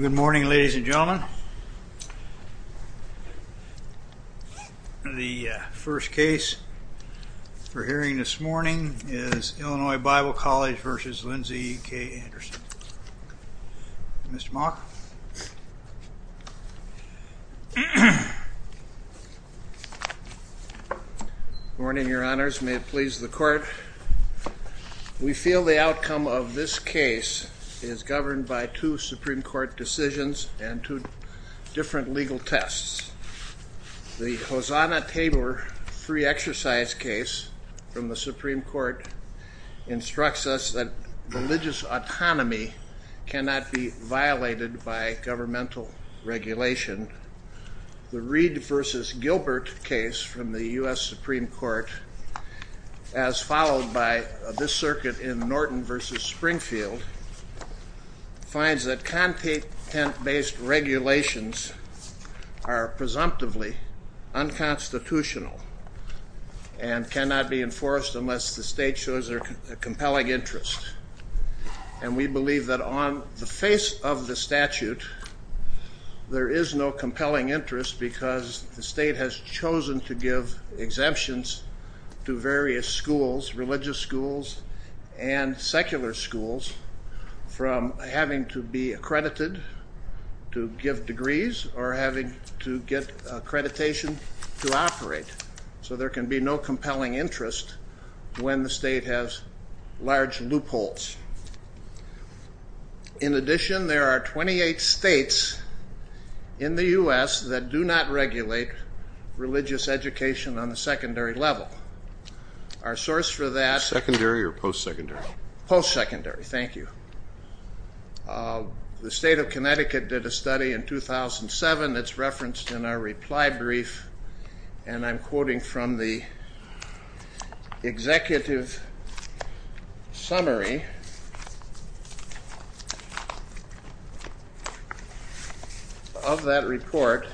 Good morning ladies and gentlemen. The first case for hearing this morning is Illinois Bible College v. Lindsay K. Anderson. Mr. Mock. Good morning your honors, may it please the court. We feel the outcome of this case is governed by two Supreme Court decisions and two different legal tests. The Hosanna-Tabor free exercise case from the Supreme Court instructs us that religious autonomy cannot be violated by governmental regulation. The as followed by this circuit in Norton v. Springfield, finds that content-based regulations are presumptively unconstitutional and cannot be enforced unless the state shows a compelling interest. And we believe that on the face of the statute, there is no compelling interest because the state has chosen to give exemptions to various schools, religious schools and secular schools from having to be accredited to give degrees or having to get accreditation to operate. So there can be no compelling interest when the state has large loopholes. In addition, there are 28 states in the U.S. that do not regulate religious education on the secondary level. Our source for that... Secondary or post-secondary? Post-secondary, thank you. The state of Connecticut did a study in 2007 that's referenced in our reply brief and I'm quoting from the executive summary of that report.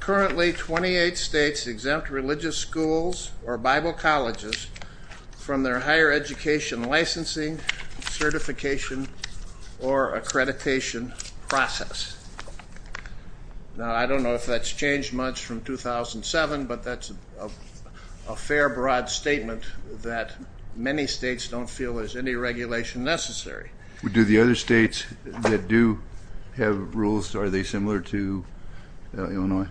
Currently 28 states exempt religious schools or Bible colleges from their higher education licensing, certification or accreditation process. Now I don't know if that's changed much from 2007, but that's a fair broad statement that many states don't feel there's any regulation necessary. Do the other states that do have rules, are they similar to Illinois?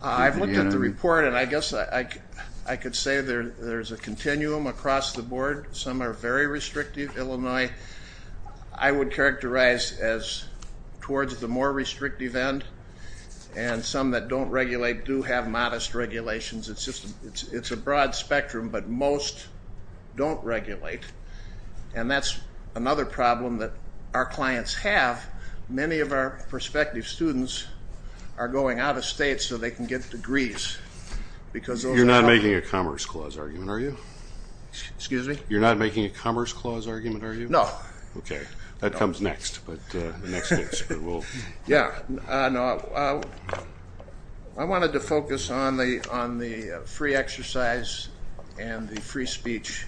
I've looked at the report and I guess I could say there's a continuum across the board. Some are very restrictive Illinois. I would characterize as towards the more restrictive end and some that don't regulate do have modest regulations. It's just it's a broad spectrum, but most don't regulate and that's another problem that our clients have. Many of our prospective students are going out of state so they can get degrees because... You're not making a Commerce Clause argument, are you? Excuse me? You're not making a Commerce Clause argument, are you? No. Okay, that comes next. Yeah, I wanted to focus on the free exercise and the free speech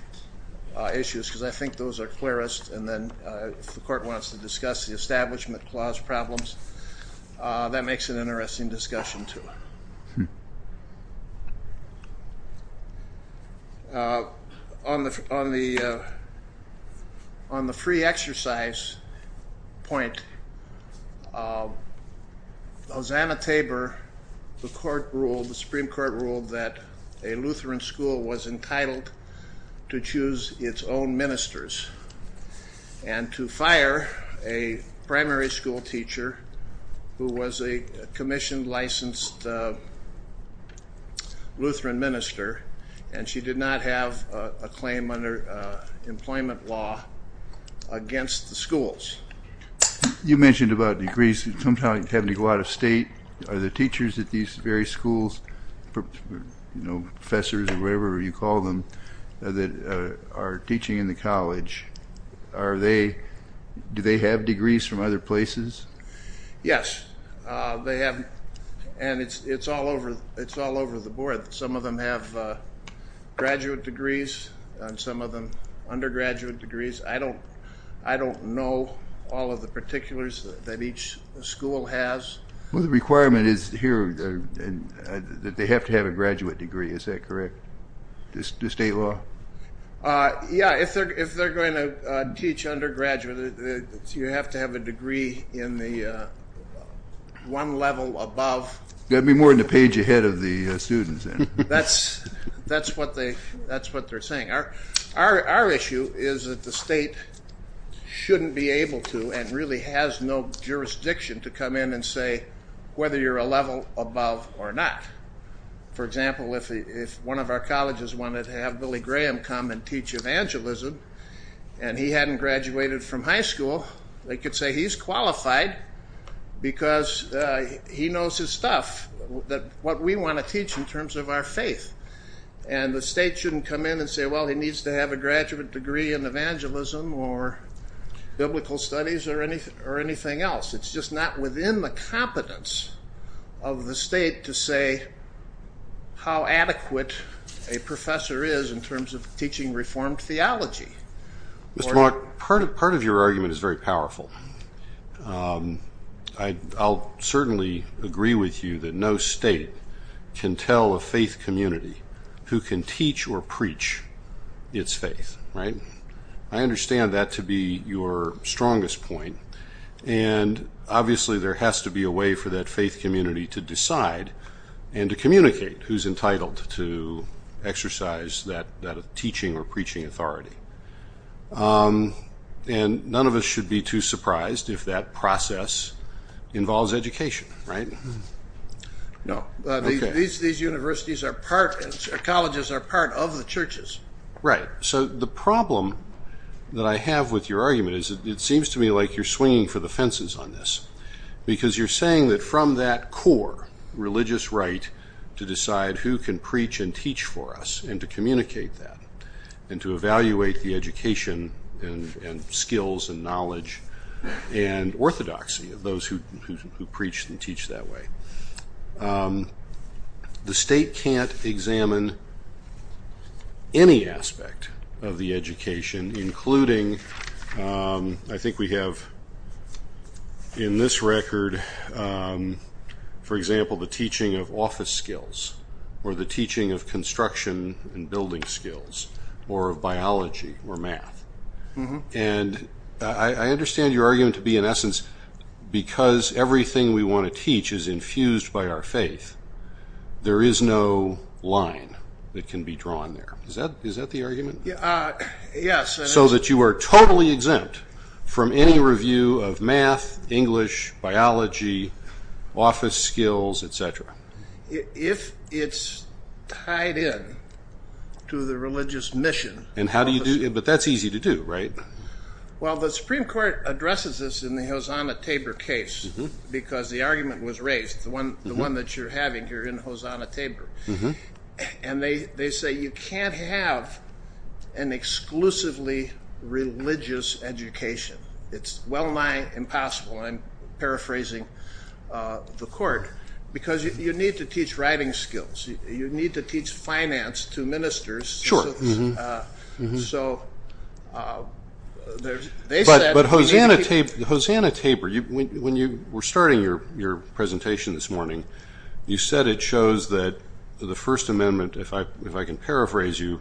issues because I think those are clearest and then if the court wants to discuss the Establishment Clause problems, that makes an interesting discussion, too. On the free exercise point, Hosanna Tabor, the Supreme Court ruled that a Lutheran school was entitled to choose its own ministers and to fire a primary school teacher who was a commissioned licensed Lutheran minister and she did not have a claim under employment law against the schools. You mentioned about degrees sometimes having to go out of state. Are the teachers at these very schools, you know, professors or whatever you call them, that are teaching in the college, do they have degrees from other places? Yes, they have and it's all over the board. Some of them have graduate degrees and some of them undergraduate degrees. I don't know all of the particulars that each school has. Well, the requirement is here that they have to have a graduate degree, is that correct? The state law? Yeah, if they're going to teach undergraduate, you have to have a degree in the one level above. That'd be more than a page ahead of the students. That's what they're saying. Our issue is that the state shouldn't be able to and really has no jurisdiction to come in and say whether you're a level above or not. For example, if one of our colleges wanted to have Billy Graham come and teach evangelism and he hadn't graduated from high school, they could say he's qualified because he knows his stuff, that what we want to teach in terms of our faith, and the state shouldn't come in and say, well, he needs to have a graduate degree in evangelism or biblical studies or anything else. It's just not within the competence of the state to say how adequate a professor is in terms of teaching reformed theology. Mr. Mark, part of your argument is very powerful. I'll certainly agree with you that no state can tell a faith community who can teach or preach its faith. I understand that to be your strongest point, and obviously there has to be a way for that faith community to decide and to communicate who's entitled to exercise that should be too surprised if that process involves education, right? No, these universities are part and colleges are part of the churches. Right, so the problem that I have with your argument is it seems to me like you're swinging for the fences on this because you're saying that from that core religious right to decide who can preach and teach for us and to communicate that and to evaluate the knowledge and orthodoxy of those who preach and teach that way. The state can't examine any aspect of the education including, I think we have in this record, for example, the teaching of office skills or the I understand your argument to be, in essence, because everything we want to teach is infused by our faith, there is no line that can be drawn there. Is that the argument? Yes. So that you are totally exempt from any review of math, English, biology, office skills, etc. If it's tied in to the religious mission... But that's easy to do, right? Well, the Supreme Court addresses this in the Hosanna-Tabor case because the argument was raised, the one that you're having here in Hosanna-Tabor. And they say you can't have an exclusively religious education. It's well-nigh impossible, I'm paraphrasing the court, because you need to teach writing skills, you need to teach finance to ministers. Sure. But Hosanna-Tabor, when you were starting your presentation this morning, you said it shows that the First Amendment, if I can paraphrase you,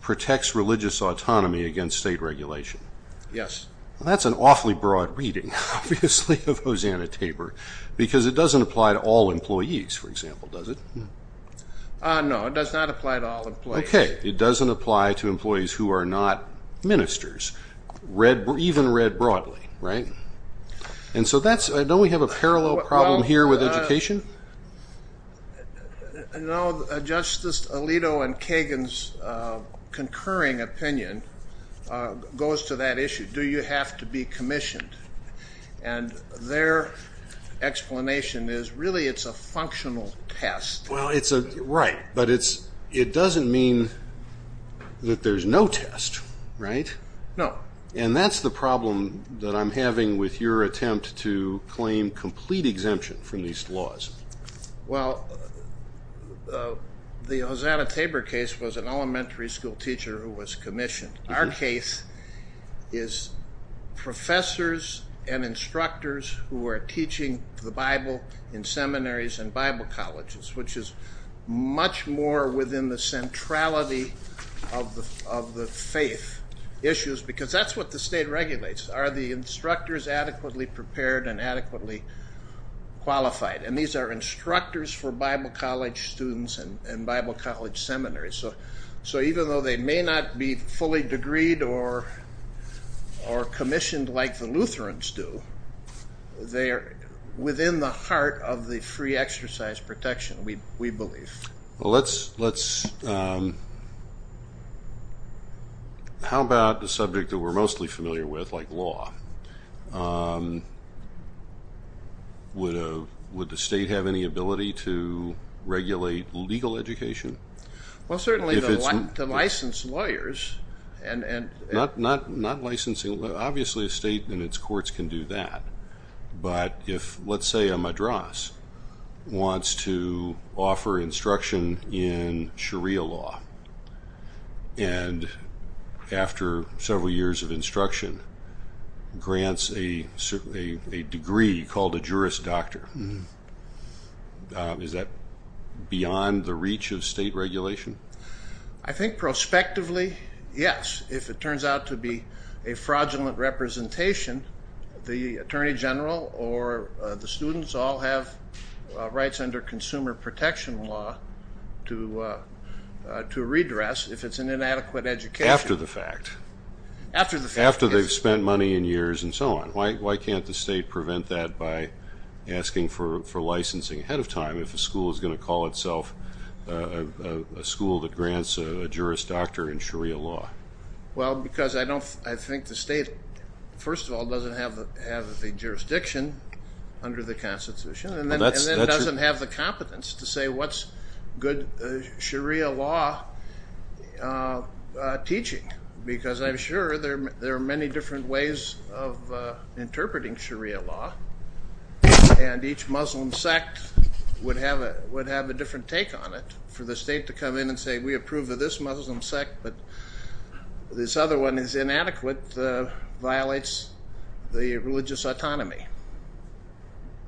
protects religious autonomy against state regulation. Yes. That's an awfully broad reading, obviously, of Hosanna-Tabor, because it doesn't apply to all employees, for example, does it? No, it does not apply to all employees. Okay, it doesn't apply to employees who are not ministers, even read broadly, right? And so don't we have a parallel problem here with education? No, Justice Alito and Kagan's concurring opinion goes to that issue, do you have to be commissioned? And their explanation is really it's a functional test. Right, but it doesn't mean that there's no test, right? No. And that's the problem that I'm having with your attempt to claim complete exemption from these laws. Well, the Hosanna-Tabor case was an elementary school teacher who was commissioned. Our case is professors and instructors who are teaching the Bible in seminaries and Bible colleges, which is much more within the centrality of the faith issues, because that's what the state regulates. Are the instructors adequately prepared and adequately qualified? And these are instructors for Bible college students and Bible college seminaries. So even though they may not be fully degreed or commissioned like the Lutherans do, they are within the heart of the free exercise protection, we believe. How about the subject that we're mostly familiar with, like law? Would the state have any ability to regulate legal education? Well, certainly the licensed lawyers and... Not licensing, obviously a state and its courts can do that. But if, let's say a madras wants to offer instruction in Sharia law, and after several years of instruction, grants a degree called a Juris Doctor. Is that beyond the reach of state regulation? I think prospectively, yes. If it turns out to be a fraudulent representation, the Attorney General or the students all have rights under consumer protection law to redress if it's an inadequate education. After they've spent money and years and so on. Why can't the state prevent that by asking for licensing ahead of time if a school is going to call itself a school that grants a Juris Doctor in Sharia law? Well, because I think the state, first of all, doesn't have the jurisdiction under the Constitution, and then it doesn't have the competence to say what's good Sharia law teaching. Because I'm sure there are many different ways of interpreting Sharia law, and each Muslim sect would have a different take on it. For the state to come in and say, we approve of this Muslim sect, but this other one is inadequate, violates the religious autonomy.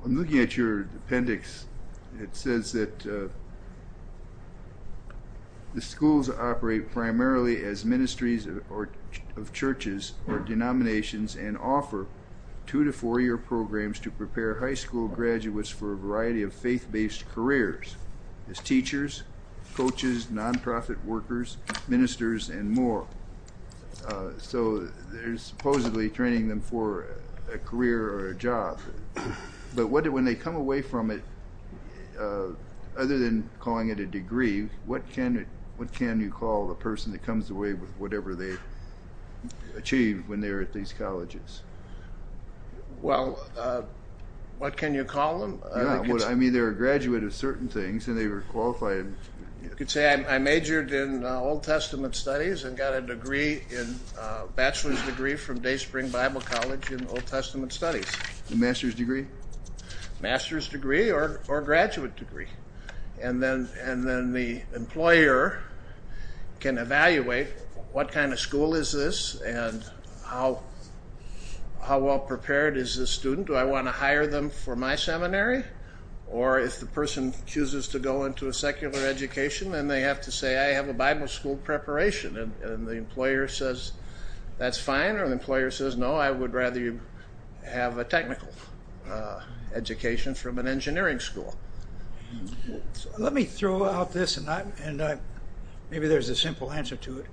I'm looking at your appendix. It says that the schools operate primarily as ministries of churches or denominations and offer two to four year programs to prepare high school graduates for a variety of faith-based careers as teachers, coaches, nonprofit workers, ministers, and more. So they're supposedly training them for a career or a job. But when they come away from it, other than calling it a degree, what can you call the person that comes away with whatever they achieve when they're at these colleges? Well, what can you call them? I mean, they're a graduate of certain things, and they were qualified. You could say I majored in Old Testament studies and got a bachelor's degree from Day Spring Bible College in Old Testament studies. A master's degree? Master's degree or graduate degree. And then the employer can evaluate what kind of school is this and how well prepared is this student? Do I want to hire them for my seminary? Or if the person chooses to go into a secular education, then they have to say, I have a Bible school preparation. And the employer says, that's fine. Or the employer says, no, I would rather you have a technical education from an engineering school. Let me throw out this and maybe there's a simple answer to it.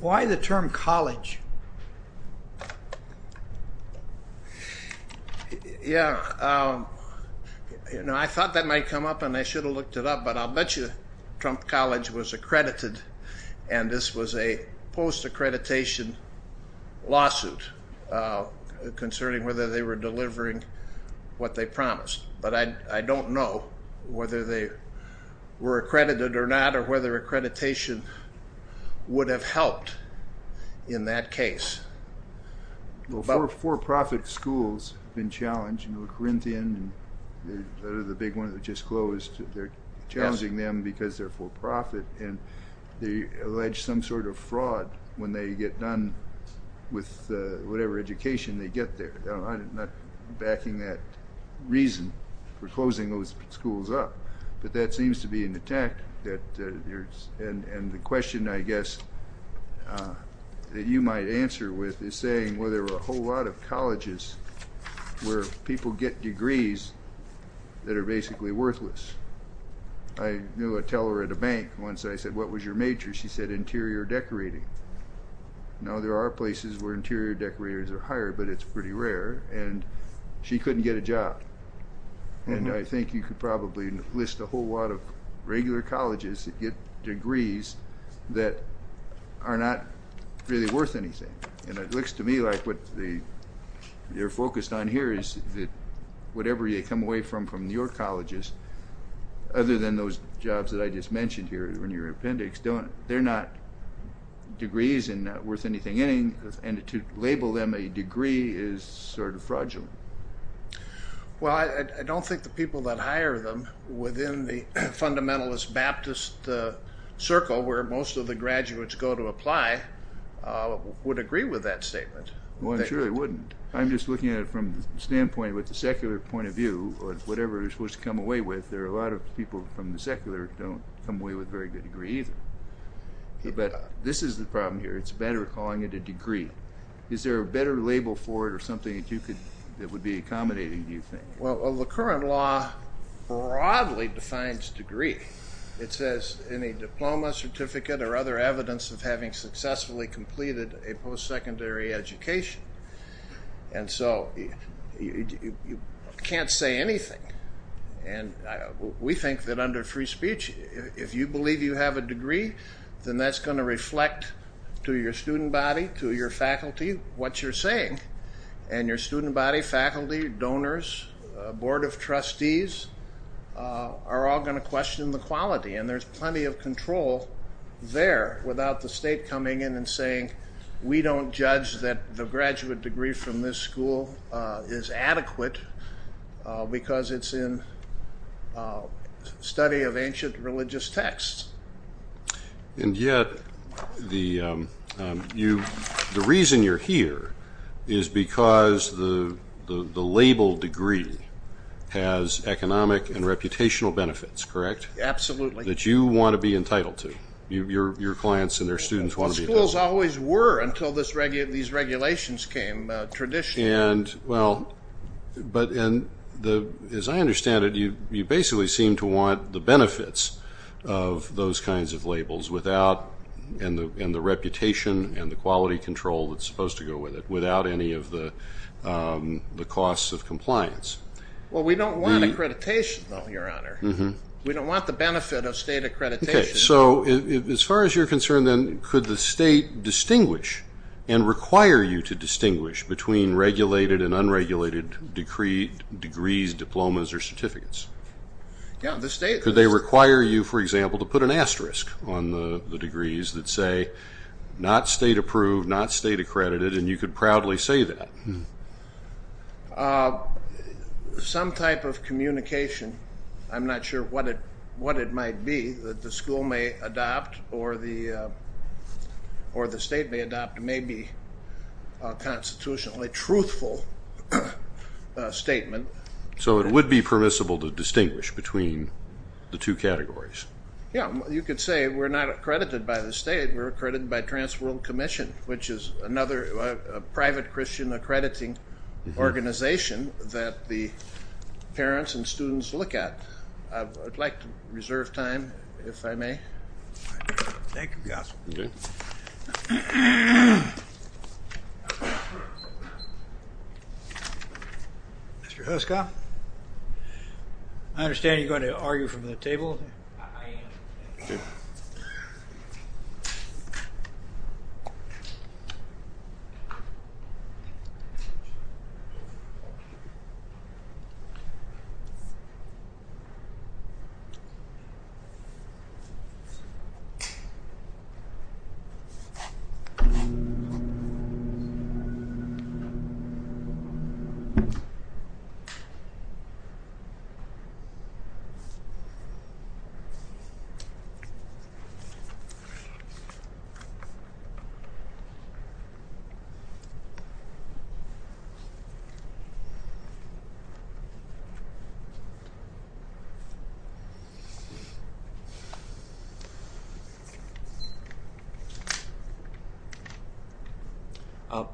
Why the term college? Yeah, I thought that might come up and I should have looked it up, but I'll bet you Trump College was accredited, and this was a post-accreditation lawsuit concerning whether they were delivering what they promised. But I don't know whether they were accredited or not, or whether accreditation would have helped in that case. Well, for-profit schools have been challenged. Corinthian, the big one that just closed, they're challenging them because they're for-profit and they allege some sort of fraud when they get done with whatever education they get there. I'm not backing that reason for closing those schools up, but that seems to be an attack. And the question, I guess, that you might answer with is saying, well, there are a whole lot of colleges where people get degrees that are basically worthless. I knew a teller at a bank, once I said, what was your major? She said interior decorating. Now, there are places where interior decorators are hired, but it's pretty rare and she couldn't get a job. And I think you could probably list a whole lot of regular colleges that get degrees that are not really worth anything. And it looks to me like what they're focused on here is that whatever you come away from from your colleges, other than those jobs that I just mentioned here in your appendix, they're not degrees and not worth anything. And to label them a degree is sort of fraudulent. Well, I don't think the people that hire them within the fundamentalist Baptist circle where most of the graduates go to apply would agree with that statement. Well, I'm sure they wouldn't. I'm just looking at it from the standpoint with the secular point of view, whatever you're supposed to come away with, there are a lot of people from the secular don't come away with very good degrees. But this is the problem here. It's better calling it a degree. Is there a better label for it or something that would be accommodating, do you think? Well, the current law broadly defines degree. It says any diploma, certificate or other evidence of having successfully completed a post-secondary education. And so you can't say anything. And we think that under free speech, if you believe you have a degree, then that's going to reflect to your student body, to your faculty, what you're saying. And your student body, faculty, donors, board of trustees are all going to question the quality. And there's plenty of control there without the state coming in and saying, we don't judge that the graduate degree from this school is adequate because it's in study of ancient religious texts. And yet the reason you're here is because the label degree has economic and reputational benefits, correct? Absolutely. That you want to be entitled to. Your clients and their students want to be entitled to. Schools always were until these regulations came, traditionally. But as I understand it, you basically seem to want the benefits of those kinds of labels and the reputation and the quality control that's supposed to go with it without any of the costs of compliance. Well, we don't want accreditation, though, Your Honor. We don't want the benefit of state accreditation. OK, so as far as you're concerned, then, could the state distinguish and require you to distinguish between regulated and unregulated degrees, diplomas, or certificates? Could they require you, for example, to put an asterisk on the degrees that say not state approved, not state accredited, and you could proudly say that? Some type of communication. I'm not sure what it might be that the school may adopt or the state may adopt. It may be a constitutionally truthful statement. So it would be permissible to distinguish between the two categories? Yeah, you could say we're not accredited by the state. We're accredited by Transworld Commission, which is another private Christian accrediting organization that the parents and students look at. I'd like to reserve time, if I may. Thank you, counsel. OK. Mr. Huska, I understand you're going to argue from the table. I am. Thank you.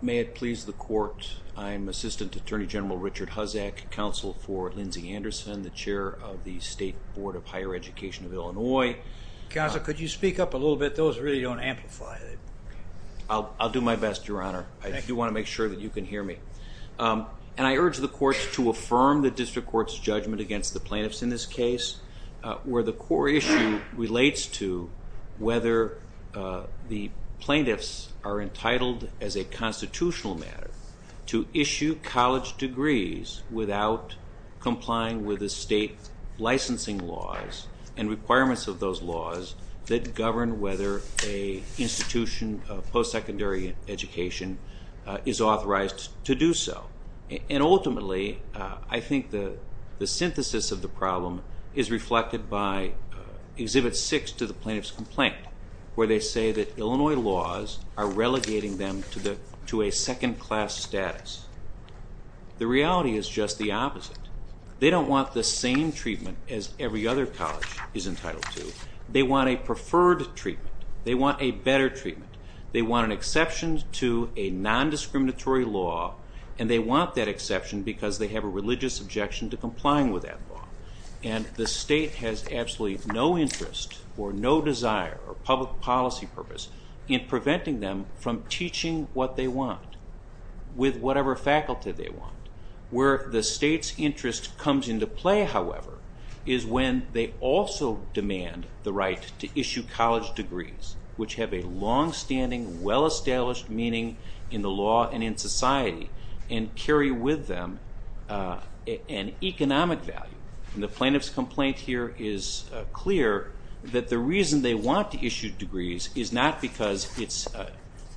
May it please the court, I'm Assistant Attorney General Richard Huzzack, counsel for Lindsay Anderson, the chair of the State Board of Higher Education of Illinois. Counsel, could you speak up a little bit? Those really don't amplify. I'll do my best, Your Honor. I do want to make sure that you can hear me. And I urge the courts to affirm the district court's judgment against the plaintiffs in this case, where the core issue relates to whether the plaintiffs are entitled, as a constitutional matter, to issue college degrees without complying with the state licensing laws and requirements of those laws that govern whether an institution of post-secondary education is authorized to do so. And ultimately, I think the synthesis of the problem is reflected by Exhibit 6 to the plaintiff's complaint, where they say that Illinois laws are relegating them to a second-class status. The reality is just the opposite. They don't want the same treatment as every other college is entitled to. They want a preferred treatment. They want a better treatment. They want an exception to a nondiscriminatory law, and they want that exception because they have a religious objection to complying with that law. And the state has absolutely no interest or no desire or public policy purpose in preventing them from teaching what they want with whatever faculty they want. Where the state's interest comes into play, however, is when they also demand the right to issue college degrees, which have a longstanding, well-established meaning in the law and in society, and carry with them an economic value. And the plaintiff's complaint here is clear that the reason they want to issue degrees is not because it's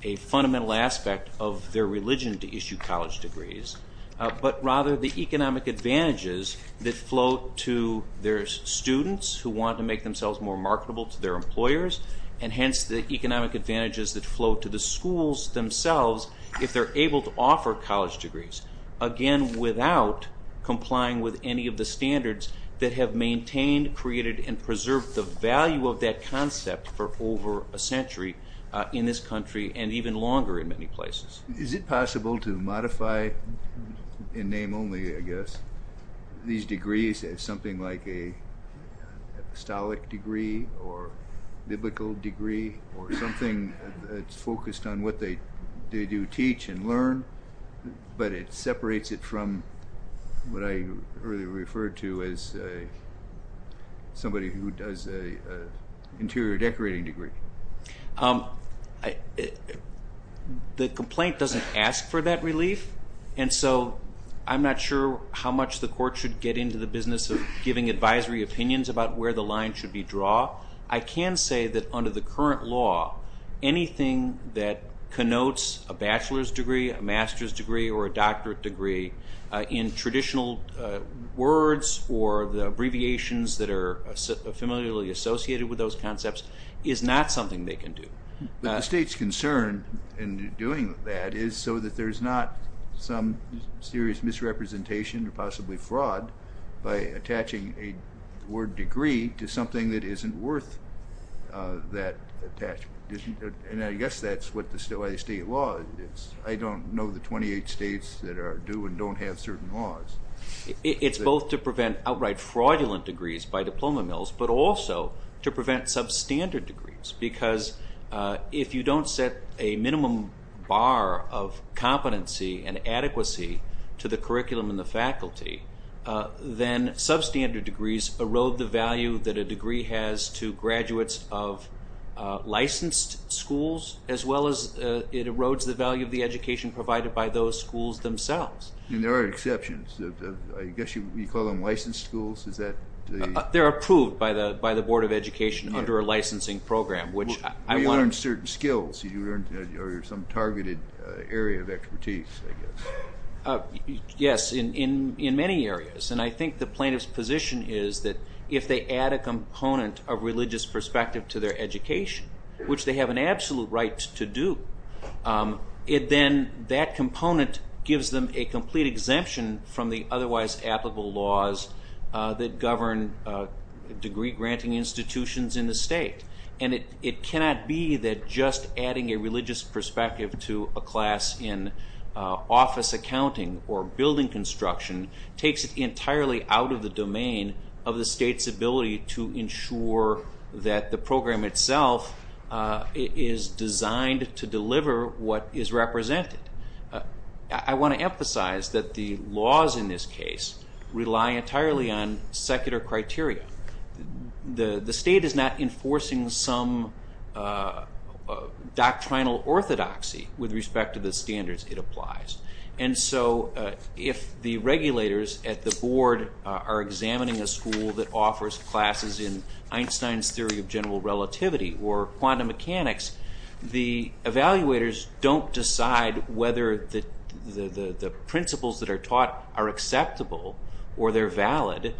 a fundamental aspect of their religion to issue college degrees, but rather the economic advantages that flow to their students who want to make themselves more marketable to their employers, and hence the economic advantages that flow to the schools themselves if they're able to offer college degrees, again, without complying with any of the standards that have maintained, created, and preserved the value of that concept for over a century in this country, and even longer in many places. Is it possible to modify, in name only, I guess, these degrees as something like a apostolic degree or biblical degree or something that's focused on what they do teach and learn, but it separates it from what I earlier referred to as somebody who does an interior decorating degree? The complaint doesn't ask for that relief, and so I'm not sure how much the court should get into the business of giving advisory opinions about where the line should be drawn. I can say that under the current law, anything that connotes a bachelor's degree, a master's degree, or a doctorate degree in traditional words or the abbreviations that are familiarly associated with those concepts is not something they can do. But the state's concern in doing that is so that there's not some serious misrepresentation or possibly fraud by attaching a word degree to something that isn't worth that attachment, and I guess that's what the state law is. I don't know the 28 states that do and don't have certain laws. It's both to prevent outright fraudulent degrees by diploma mills, but also to prevent substandard degrees, because if you don't set a minimum bar of competency and adequacy to the curriculum and the faculty, then substandard degrees erode the value that a degree has to graduates of licensed schools as well as it erodes the value of the education provided by those schools themselves. There are exceptions. I guess you call them licensed schools. They're approved by the Board of Education under a licensing program. You learn certain skills or some targeted area of expertise. Yes, in many areas, and I think the plaintiff's position is that if they add a component of religious perspective to their education, which they have an absolute right to do, then that component gives them a complete exemption from the otherwise applicable laws that govern degree-granting institutions in the state. It cannot be that just adding a religious perspective to a class in office accounting or building construction takes it entirely out of the domain of the state's ability to ensure that the program itself is designed to deliver what is represented. I want to emphasize that the laws in this case rely entirely on secular criteria. The state is not enforcing some doctrinal orthodoxy with respect to the standards it applies. If the regulators at the board are examining a school that offers classes in Einstein's theory of general relativity or quantum mechanics, the evaluators don't decide whether the principles that are taught are acceptable or they're valid.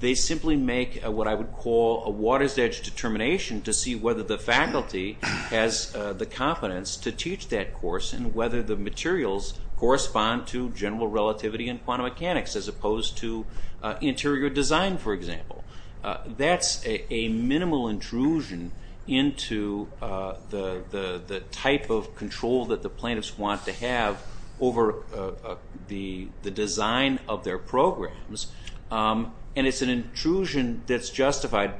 They simply make what I would call a water's edge determination to see whether the faculty has the competence to teach that course and whether the materials correspond to general relativity and quantum mechanics as opposed to interior design, for example. That's a minimal intrusion into the type of control that the plaintiffs want to have over the design of their programs, and it's an intrusion that's justified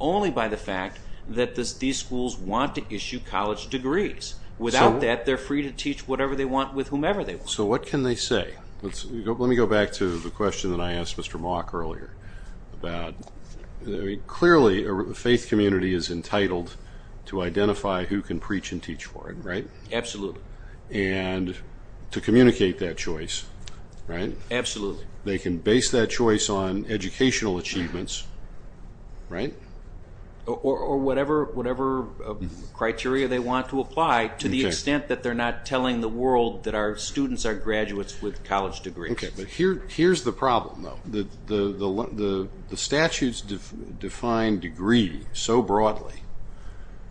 only by the fact that these schools want to issue college degrees. Without that, they're free to teach whatever they want with whomever they want. So what can they say? Let me go back to the question that I asked Mr. Mauck earlier. Clearly, a faith community is entitled to identify who can preach and teach for it, right? Absolutely. And to communicate that choice, right? Absolutely. They can base that choice on educational achievements, right? Or whatever criteria they want to apply to the extent that they're not telling the world that our students are graduates with college degrees. Okay, but here's the problem, though. The statutes define degree so broadly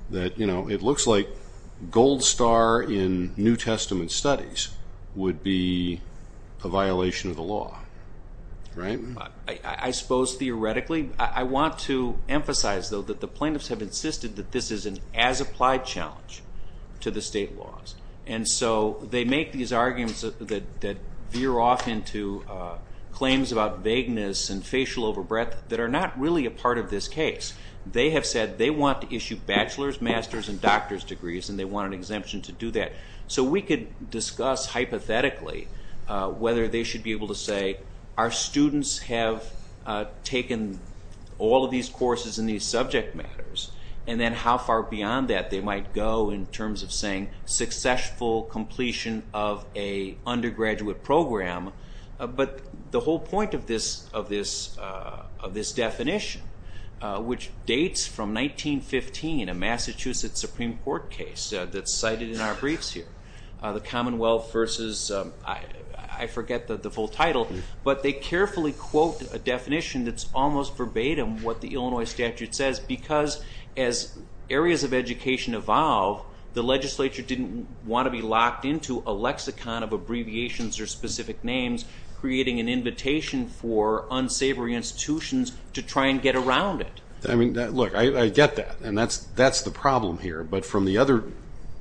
that it looks like gold star in New Testament studies would be a violation of the law, right? I suppose theoretically. I want to emphasize, though, that the plaintiffs have insisted that this is an as-applied challenge to the state laws. And so they make these arguments that veer off into claims about vagueness and facial overbreadth that are not really a part of this case. They have said they want to issue bachelor's, master's, and doctor's degrees, and they want an exemption to do that. So we could discuss hypothetically whether they should be able to say, our students have taken all of these courses in these subject matters, and then how far beyond that they might go in terms of saying successful completion of an undergraduate program. But the whole point of this definition, which dates from 1915, a Massachusetts Supreme Court case that's cited in our briefs here, the Commonwealth versus, I forget the full title, but they carefully quote a definition that's almost verbatim what the Illinois statute says, because as areas of education evolve, the legislature didn't want to be locked into a lexicon of abbreviations or specific names, creating an invitation for unsavory institutions to try and get around it. I mean, look, I get that, and that's the problem here. But from the other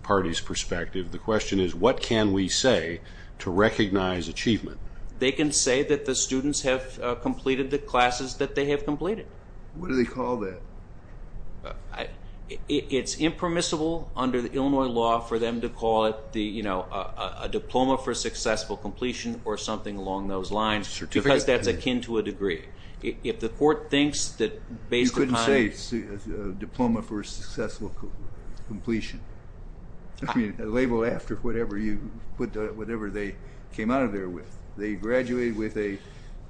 party's perspective, the question is, what can we say to recognize achievement? They can say that the students have completed the classes that they have completed. What do they call that? It's impermissible under the Illinois law for them to call it a diploma for successful completion or something along those lines, because that's akin to a degree. If the court thinks that based upon... You couldn't say diploma for successful completion. I mean, label after whatever they came out of there with. They graduated with a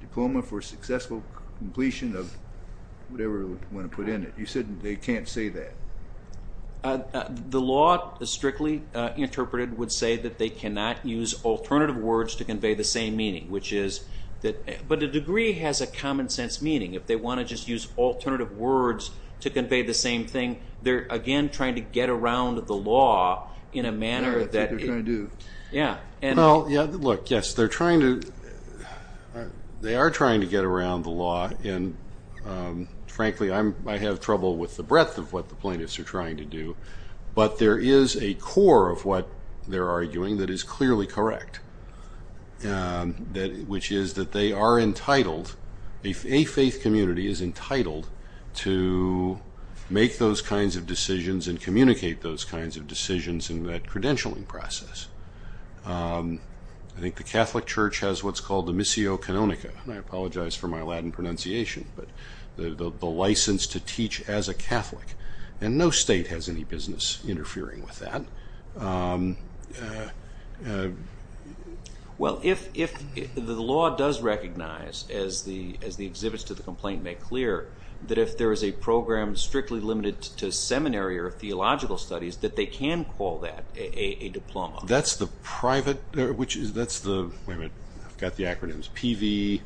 diploma for successful completion of whatever you want to put in it. You said they can't say that. The law, strictly interpreted, would say that they cannot use alternative words to convey the same meaning, which is that... But a degree has a common-sense meaning. If they want to just use alternative words to convey the same thing, they're, again, trying to get around the law in a manner that... That's what they're trying to do. Look, yes, they're trying to... They are trying to get around the law. Frankly, I have trouble with the breadth of what the plaintiffs are trying to do. But there is a core of what they're arguing that is clearly correct, which is that they are entitled, a faith community is entitled, to make those kinds of decisions and communicate those kinds of decisions in that credentialing process. I think the Catholic Church has what's called the missio canonica, and I apologize for my Latin pronunciation, but the license to teach as a Catholic, and no state has any business interfering with that. Well, if the law does recognize, as the exhibits to the complaint make clear, that if there is a program strictly limited to seminary or theological studies, that they can call that a diploma. That's the private... Wait a minute, I've got the acronyms, PV...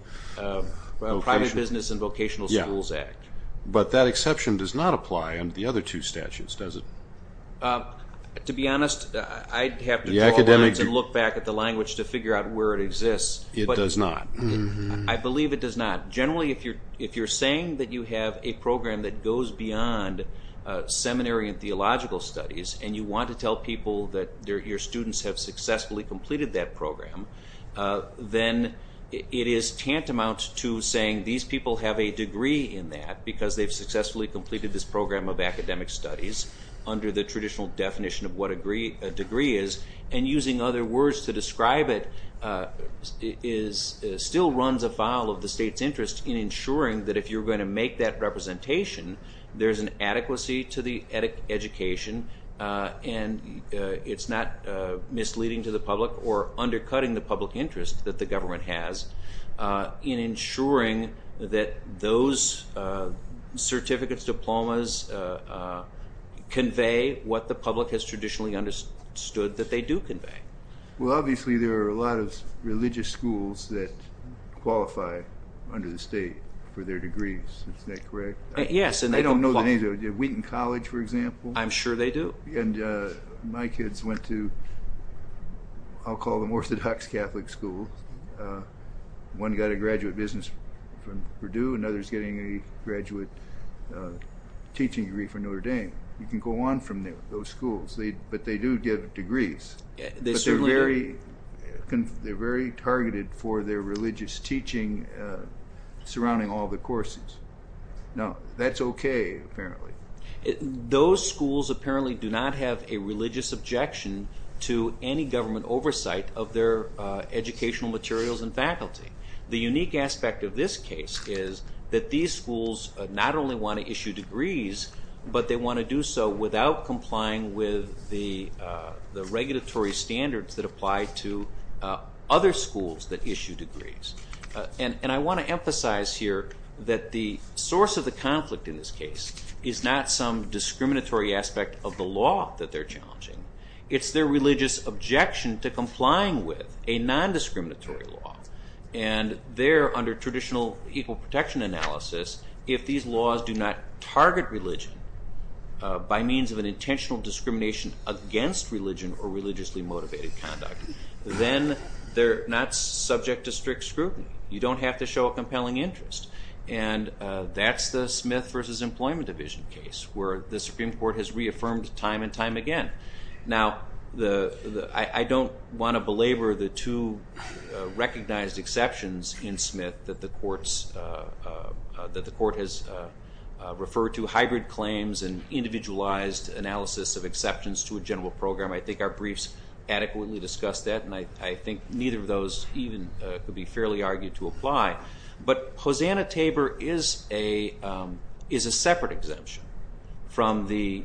Private Business and Vocational Schools Act. But that exception does not apply under the other two statutes, does it? To be honest, I'd have to draw lines and look back at the language to figure out where it exists. It does not. I believe it does not. Generally, if you're saying that you have a program that goes beyond seminary and theological studies, and you want to tell people that your students have successfully completed that program, then it is tantamount to saying these people have a degree in that because they've successfully completed this program of academic studies under the traditional definition of what a degree is, and using other words to describe it still runs afoul of the state's interest in ensuring that if you're going to make that representation, there's an adequacy to the education, and it's not misleading to the public or undercutting the public interest that the government has in ensuring that those certificates, diplomas, convey what the public has traditionally understood that they do convey. Well, obviously, there are a lot of religious schools that qualify under the state for their degrees. Is that correct? Yes. I don't know the names. Wheaton College, for example? I'm sure they do. My kids went to, I'll call them orthodox Catholic schools. One got a graduate business from Purdue. Another's getting a graduate teaching degree from Notre Dame. You can go on from those schools, but they do get degrees. They certainly are. But they're very targeted for their religious teaching surrounding all the courses. Now, that's okay, apparently. Those schools apparently do not have a religious objection to any government oversight of their educational materials and faculty. The unique aspect of this case is that these schools not only want to issue degrees, but they want to do so without complying with the regulatory standards that apply to other schools that issue degrees. And I want to emphasize here that the source of the conflict in this case is not some discriminatory aspect of the law that they're challenging. It's their religious objection to complying with a nondiscriminatory law. And there, under traditional equal protection analysis, if these laws do not target religion by means of an intentional discrimination against religion or religiously motivated conduct, then they're not subject to strict scrutiny. You don't have to show a compelling interest. And that's the Smith v. Employment Division case where the Supreme Court has reaffirmed time and time again. Now, I don't want to belabor the two recognized exceptions in Smith that the court has referred to, hybrid claims and individualized analysis of exceptions to a general program. I think our briefs adequately discuss that, and I think neither of those even could be fairly argued to apply. But Hosanna-Tabor is a separate exemption from the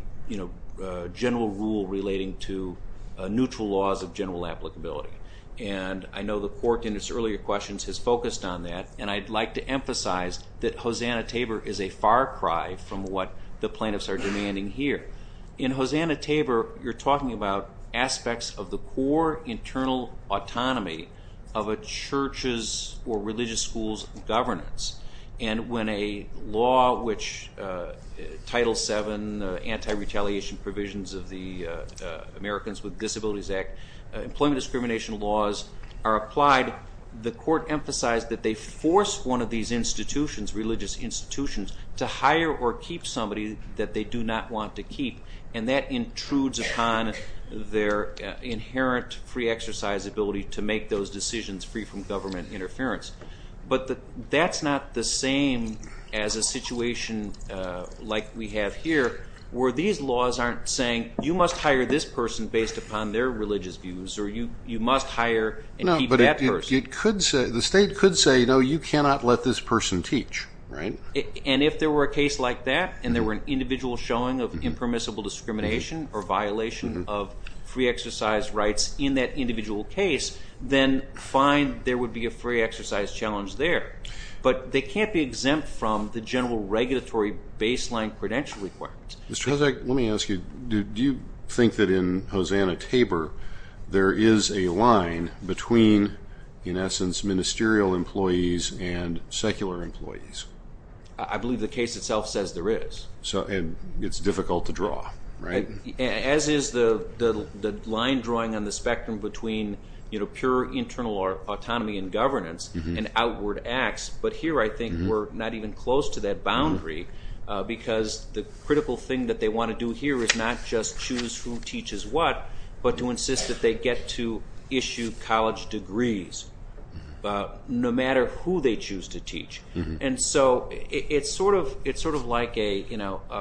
general rule relating to neutral laws of general applicability. And I know the court in its earlier questions has focused on that, and I'd like to emphasize that Hosanna-Tabor is a far cry from what the plaintiffs are demanding here. In Hosanna-Tabor, you're talking about aspects of the core internal autonomy of a church's or religious school's governance. And when a law which Title VII, anti-retaliation provisions of the Americans with Disabilities Act, employment discrimination laws are applied, the court emphasized that they force one of these institutions, religious institutions, to hire or keep somebody that they do not want to keep. And that intrudes upon their inherent free exercise ability to make those decisions free from government interference. But that's not the same as a situation like we have here where these laws aren't saying, you must hire this person based upon their religious views or you must hire and keep that person. But the state could say, no, you cannot let this person teach, right? And if there were a case like that and there were an individual showing of impermissible discrimination or violation of free exercise rights in that individual case, then fine, there would be a free exercise challenge there. But they can't be exempt from the general regulatory baseline credential requirements. Mr. Hasek, let me ask you, do you think that in Hosanna-Tabor there is a line between, in essence, ministerial employees and secular employees? I believe the case itself says there is. So it's difficult to draw, right? As is the line drawing on the spectrum between pure internal autonomy and governance and outward acts. But here I think we're not even close to that boundary because the critical thing that they want to do here is not just choose who teaches what, but to insist that they get to issue college degrees no matter who they choose to teach. And so it's sort of like a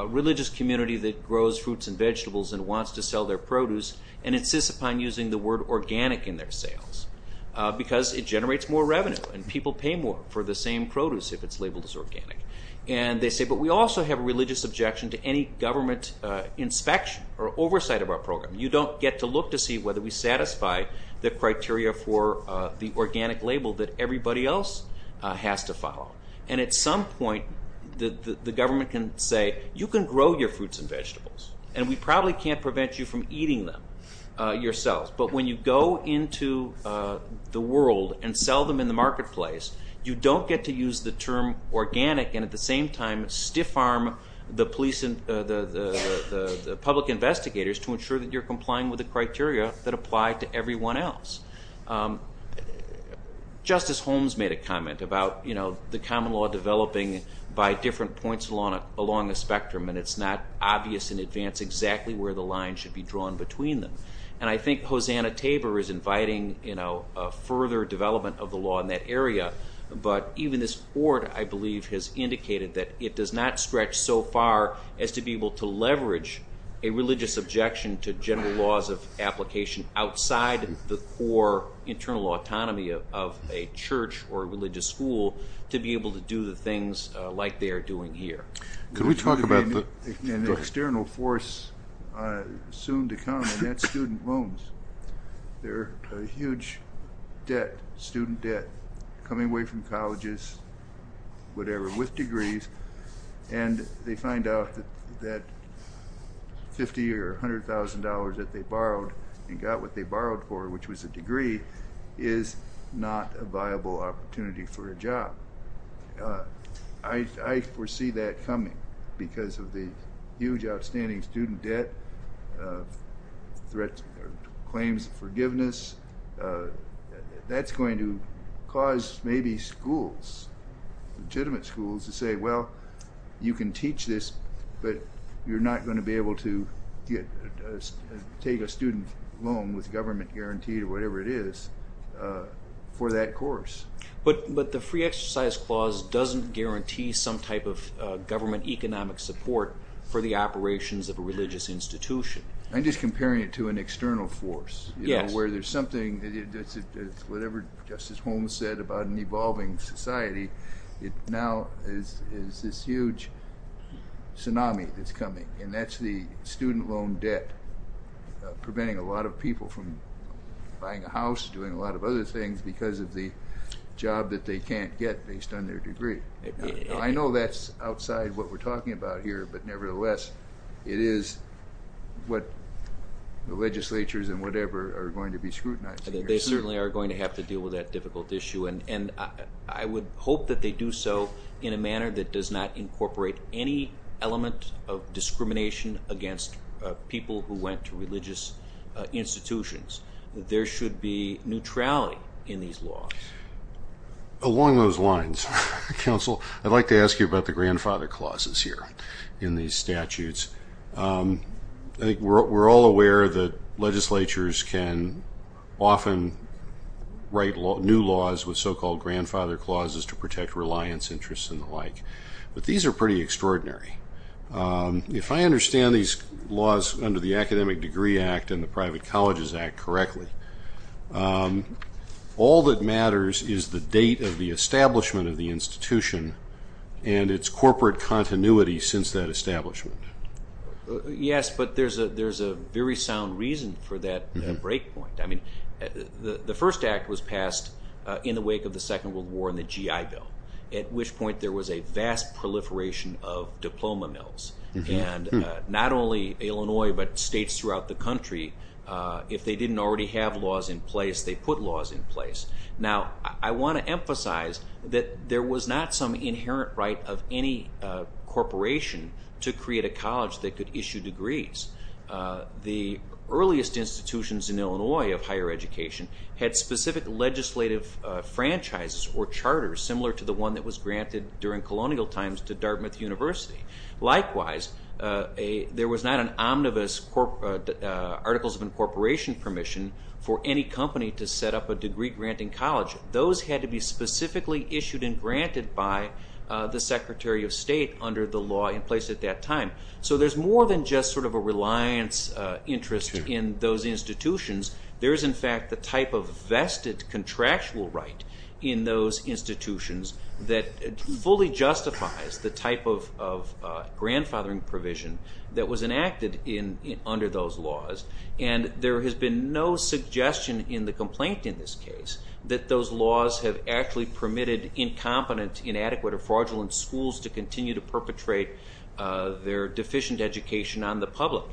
religious community that grows fruits and vegetables and wants to sell their produce and insists upon using the word organic in their sales because it generates more revenue and people pay more for the same produce if it's labeled as organic. And they say, but we also have a religious objection to any government inspection or oversight of our program. You don't get to look to see whether we satisfy the criteria for the organic label that everybody else has to follow. And at some point the government can say, you can grow your fruits and vegetables and we probably can't prevent you from eating them yourselves. But when you go into the world and sell them in the marketplace, you don't get to use the term organic and at the same time stiff arm the public investigators to ensure that you're complying with the criteria that apply to everyone else. Justice Holmes made a comment about the common law developing by different points along the spectrum and it's not obvious in advance exactly where the line should be drawn between them. And I think Hosanna Tabor is inviting further development of the law in that area, but even this board I believe has indicated that it does not stretch so far as to be able to leverage a religious objection to general laws of application outside the core internal autonomy of a church or a religious school to be able to do the things like they are doing here. Could we talk about the... An external force soon to come and that's student loans. They're a huge debt, student debt, coming away from colleges, whatever, with degrees and they find out that 50 or $100,000 that they borrowed and got what they borrowed for, which was a degree, is not a viable opportunity for a job. I foresee that coming because of the huge outstanding student debt, claims of forgiveness. That's going to cause maybe schools, legitimate schools to say, well, you can teach this, but you're not going to be able to take a student loan with government guaranteed or whatever it is for that course. But the free exercise clause doesn't guarantee some type of government economic support for the operations of a religious institution. I'm just comparing it to an external force where there's something, whatever Justice Holmes said about an evolving society, it now is this huge tsunami that's coming and that's the student loan debt preventing a lot of people from buying a house, doing a lot of other things because of the job that they can't get based on their degree. I know that's outside what we're talking about here, but nevertheless, it is what the legislatures and whatever are going to be scrutinizing. They certainly are going to have to deal with that difficult issue and I would hope that they do so in a manner that does not incorporate any element of discrimination against people who went to religious institutions. There should be neutrality in these laws. Along those lines, Counsel, I'd like to ask you about the grandfather clauses here in these statutes. I think we're all aware that legislatures can often write new laws with so-called grandfather clauses to protect reliance interests and the like, but these are pretty extraordinary. If I understand these laws under the Academic Degree Act and the Private Colleges Act correctly, all that matters is the date of the establishment of the institution and its corporate continuity since that establishment. Yes, but there's a very sound reason for that break point. The first act was passed in the wake of the Second World War and the GI Bill, at which point there was a vast proliferation of diploma mills and not only Illinois but states throughout the country, if they didn't already have laws in place, they put laws in place. Now, I want to emphasize that there was not some inherent right of any corporation to create a college that could issue degrees. The earliest institutions in Illinois of higher education had specific legislative franchises or charters similar to the one that was granted during colonial times to Dartmouth University. Likewise, there was not an omnibus Articles of Incorporation permission for any company to set up a degree-granting college. Those had to be specifically issued and granted by the Secretary of State under the law in place at that time. So there's more than just sort of a reliance interest in those institutions. There is, in fact, the type of vested contractual right in those institutions that fully justifies the type of grandfathering provision that was enacted under those laws. And there has been no suggestion in the complaint in this case that those laws have actually permitted incompetent, inadequate, or fraudulent schools to continue to perpetrate their deficient education on the public.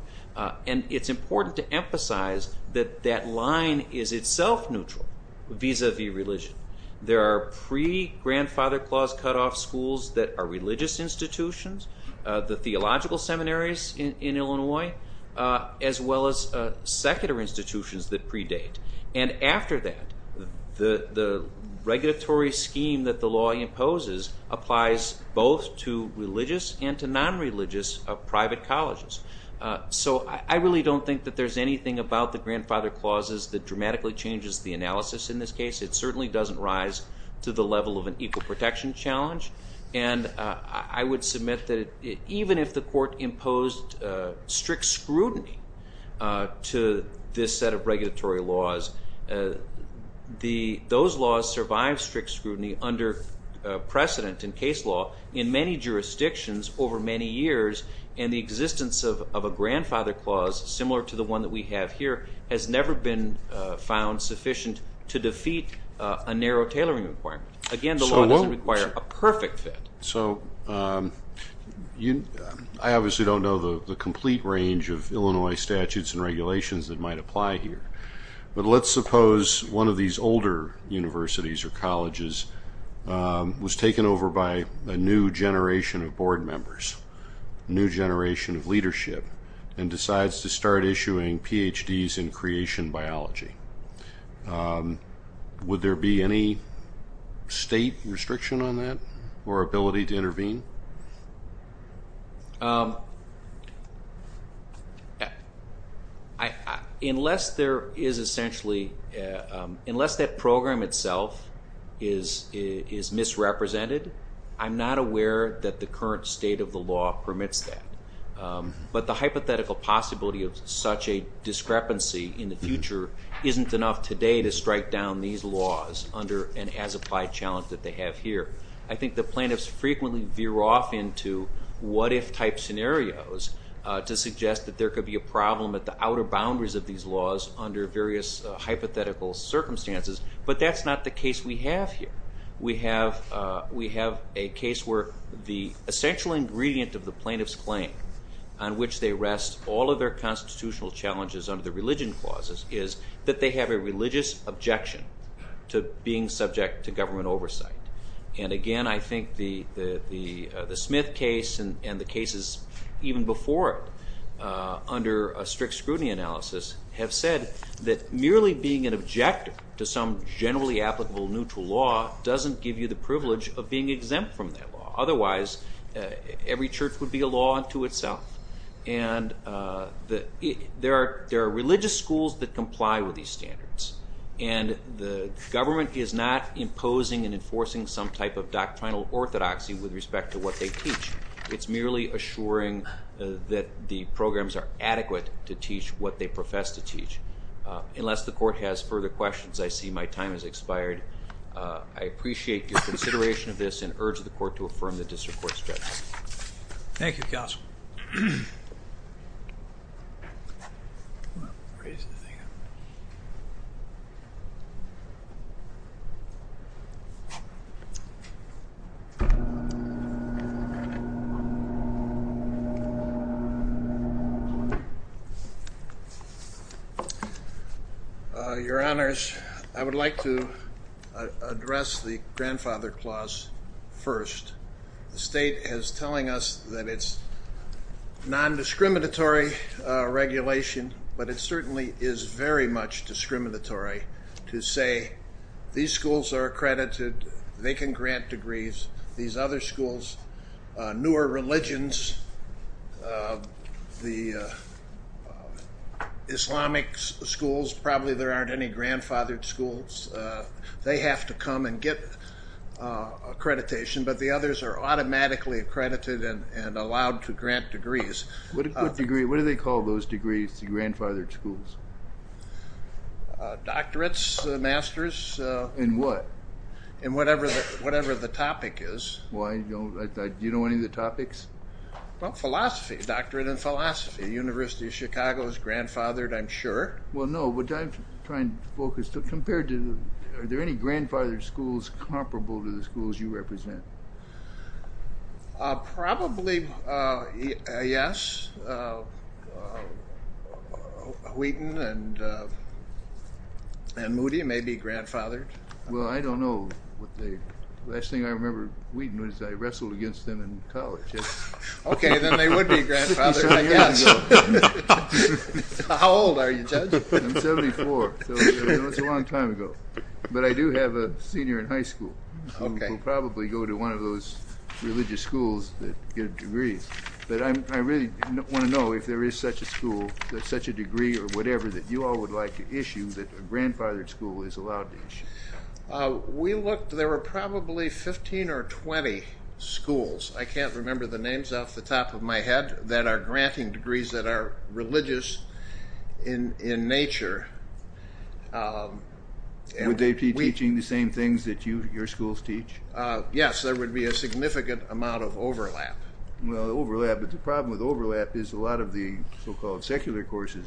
And it's important to emphasize that that line is itself neutral vis-à-vis religion. There are pre-grandfather clause cutoff schools that are religious institutions, the theological seminaries in Illinois, as well as secular institutions that predate. And after that, the regulatory scheme that the law imposes applies both to religious and to non-religious private colleges. So I really don't think that there's anything about the grandfather clauses that dramatically changes the analysis in this case. It certainly doesn't rise to the level of an equal protection challenge. And I would submit that even if the court imposed strict scrutiny to this set of regulatory laws, those laws survived strict scrutiny under precedent in case law in many jurisdictions over many years and the existence of a grandfather clause similar to the one that we have here has never been found sufficient to defeat a narrow tailoring requirement. Again, the law doesn't require a perfect fit. So I obviously don't know the complete range of Illinois statutes and regulations that might apply here. But let's suppose one of these older universities or colleges was taken over by a new generation of board members. A new generation of leadership and decides to start issuing Ph.D.s in creation biology. Would there be any state restriction on that or ability to intervene? Unless that program itself is misrepresented, I'm not aware that the current state of the law permits that. But the hypothetical possibility of such a discrepancy in the future isn't enough today to strike down these laws under an as-applied challenge that they have here. I think the plaintiffs frequently veer off into what-if type scenarios to suggest that there could be a problem at the outer boundaries of these laws under various hypothetical circumstances. But that's not the case we have here. We have a case where the essential ingredient of the plaintiff's claim on which they rest all of their constitutional challenges under the religion clauses is that they have a religious objection to being subject to government oversight. And again, I think the Smith case and the cases even before it under a strict scrutiny analysis have said that merely being an objector to some generally applicable neutral law doesn't give you the privilege of being exempt from that law. Otherwise, every church would be a law unto itself. And there are religious schools that comply with these standards. And the government is not imposing and enforcing some type of doctrinal orthodoxy with respect to what they teach. It's merely assuring that the programs are adequate to teach what they profess to teach. Unless the court has further questions, I see my time has expired. I appreciate your consideration of this and urge the court to affirm the district court's judgment. Thank you, Counsel. Your Honors, I would like to address the grandfather clause first. The state is telling us that it's non-discriminatory regulation, but it certainly is very much discriminatory to say these schools are accredited, they can grant degrees, these other schools, newer religions, the Islamic schools, probably there aren't any grandfathered schools. They have to come and get accreditation, but the others are automatically accredited and allowed to grant degrees. What do they call those degrees, the grandfathered schools? Doctorates, Masters. In what? In whatever the topic is. Do you know any of the topics? Philosophy, Doctorate in Philosophy. University of Chicago is grandfathered, I'm sure. Well, no, but I'm trying to focus. Are there any grandfathered schools comparable to the schools you represent? Probably, yes. Wheaton and Moody may be grandfathered. Well, I don't know. The last thing I remember Wheaton was I wrestled against them in college. Okay, then they would be grandfathered, I guess. How old are you, Judge? I'm 74, so that's a long time ago. But I do have a senior in high school who will probably go to one of those religious schools that get degrees. But I really want to know if there is such a school, such a degree or whatever that you all would like to issue that a grandfathered school is allowed to issue. We looked. There were probably 15 or 20 schools. I can't remember the names off the top of my head that are granting degrees that are religious in nature. Would they be teaching the same things that your schools teach? Yes, there would be a significant amount of overlap. Well, overlap. But the problem with overlap is a lot of the so-called secular courses,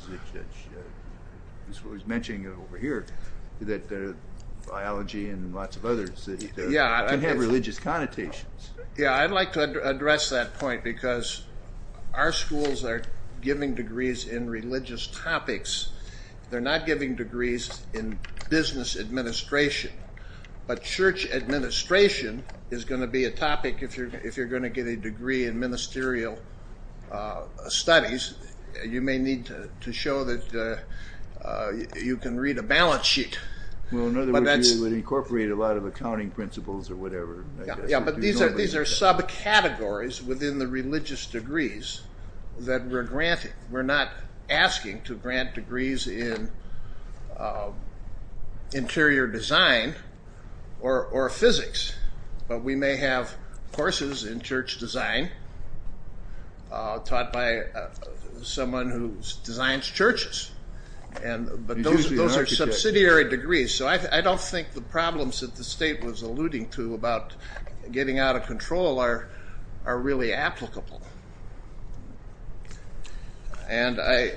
as was mentioned over here, that biology and lots of others can have religious connotations. Yeah, I'd like to address that point because our schools are giving degrees in religious topics. They're not giving degrees in business administration. But church administration is going to be a topic if you're going to get a degree in ministerial studies. You may need to show that you can read a balance sheet. Well, in other words, you would incorporate a lot of accounting principles or whatever. Yeah, but these are subcategories within the religious degrees that we're granting. We're not asking to grant degrees in interior design or physics. But we may have courses in church design taught by someone who designs churches. But those are subsidiary degrees. So I don't think the problems that the state was alluding to about getting out of control are really applicable. And I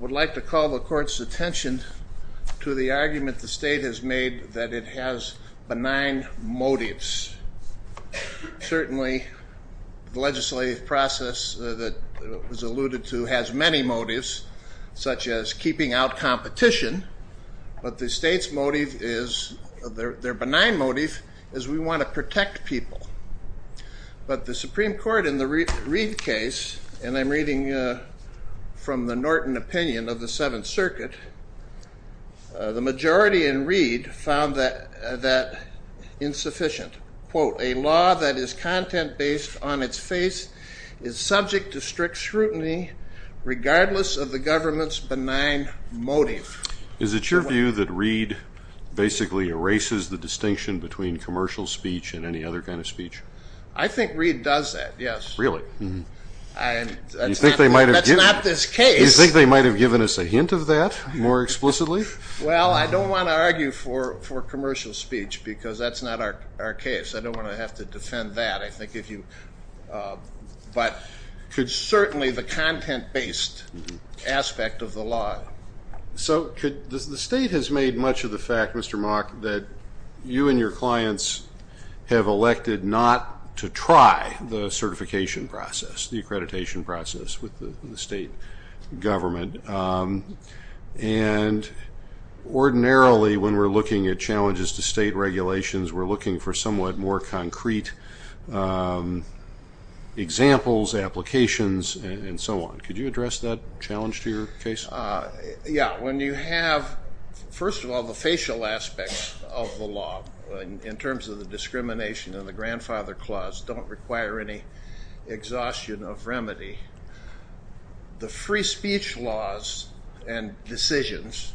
would like to call the court's attention to the argument the state has made that it has benign motives. Certainly, the legislative process that was alluded to has many motives, such as keeping out competition. But the state's motive is, their benign motive, is we want to protect people. But the Supreme Court in the Reed case, and I'm reading from the Norton opinion of the Seventh Circuit, the majority in Reed found that insufficient. Quote, A law that is content-based on its face is subject to strict scrutiny regardless of the government's benign motive. Is it your view that Reed basically erases the distinction between commercial speech and any other kind of speech? I think Reed does that, yes. Really? That's not this case. You think they might have given us a hint of that more explicitly? Well, I don't want to argue for commercial speech because that's not our case. I don't want to have to defend that. But certainly the content-based aspect of the law. So the state has made much of the fact, Mr. Mock, that you and your clients have elected not to try the certification process, the accreditation process with the state government. And ordinarily when we're looking at challenges to state regulations, we're looking for somewhat more concrete examples, applications, and so on. Could you address that challenge to your case? Yeah. When you have, first of all, the facial aspects of the law, in terms of the discrimination and the grandfather clause, don't require any exhaustion of remedy. The free speech laws and decisions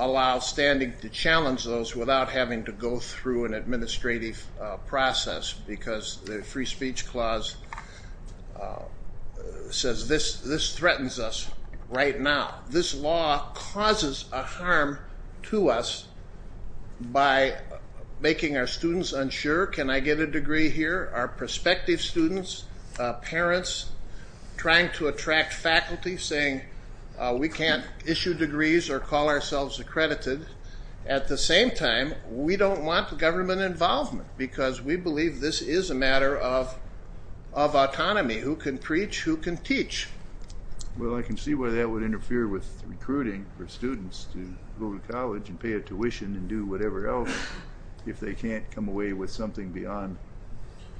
allow standing to challenge those without having to go through an administrative process because the free speech clause says this threatens us right now. This law causes a harm to us by making our students unsure. Can I get a degree here? Our prospective students, parents, trying to attract faculty, saying we can't issue degrees or call ourselves accredited. At the same time, we don't want government involvement because we believe this is a matter of autonomy. Who can preach? Who can teach? Well, I can see why that would interfere with recruiting for students to go to college and pay a tuition and do whatever else if they can't come away with something beyond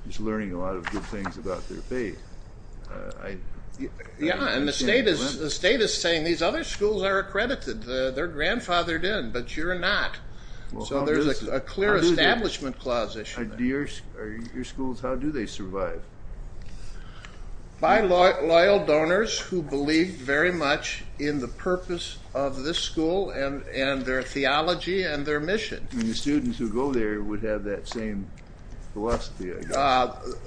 just learning a lot of good things about their faith. Yeah, and the state is saying these other schools are accredited. They're grandfathered in, but you're not. So there's a clear establishment clause issue there. How do your schools survive? By loyal donors who believe very much in the purpose of this school and their theology and their mission. The students who go there would have that same philosophy, I guess.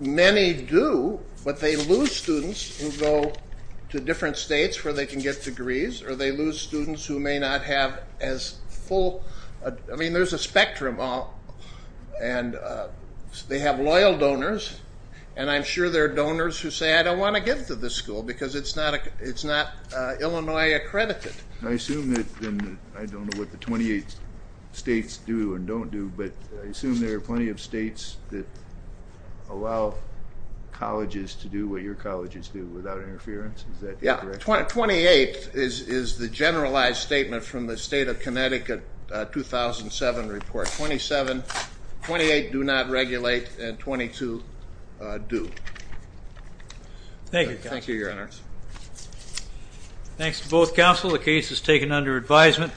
Many do, but they lose students who go to different states where they can get degrees, or they lose students who may not have as full. I mean, there's a spectrum. They have loyal donors, and I'm sure there are donors who say, I don't want to give to this school because it's not Illinois accredited. I assume that, and I don't know what the 28 states do and don't do, but I assume there are plenty of states that allow colleges to do what your colleges do without interference. Is that correct? Yeah, 28 is the generalized statement from the state of Connecticut 2007 report. 27, 28 do not regulate, and 22 do. Thank you, Counsel. Thank you, Your Honor. Thanks to both counsel. The case is taken under advisement.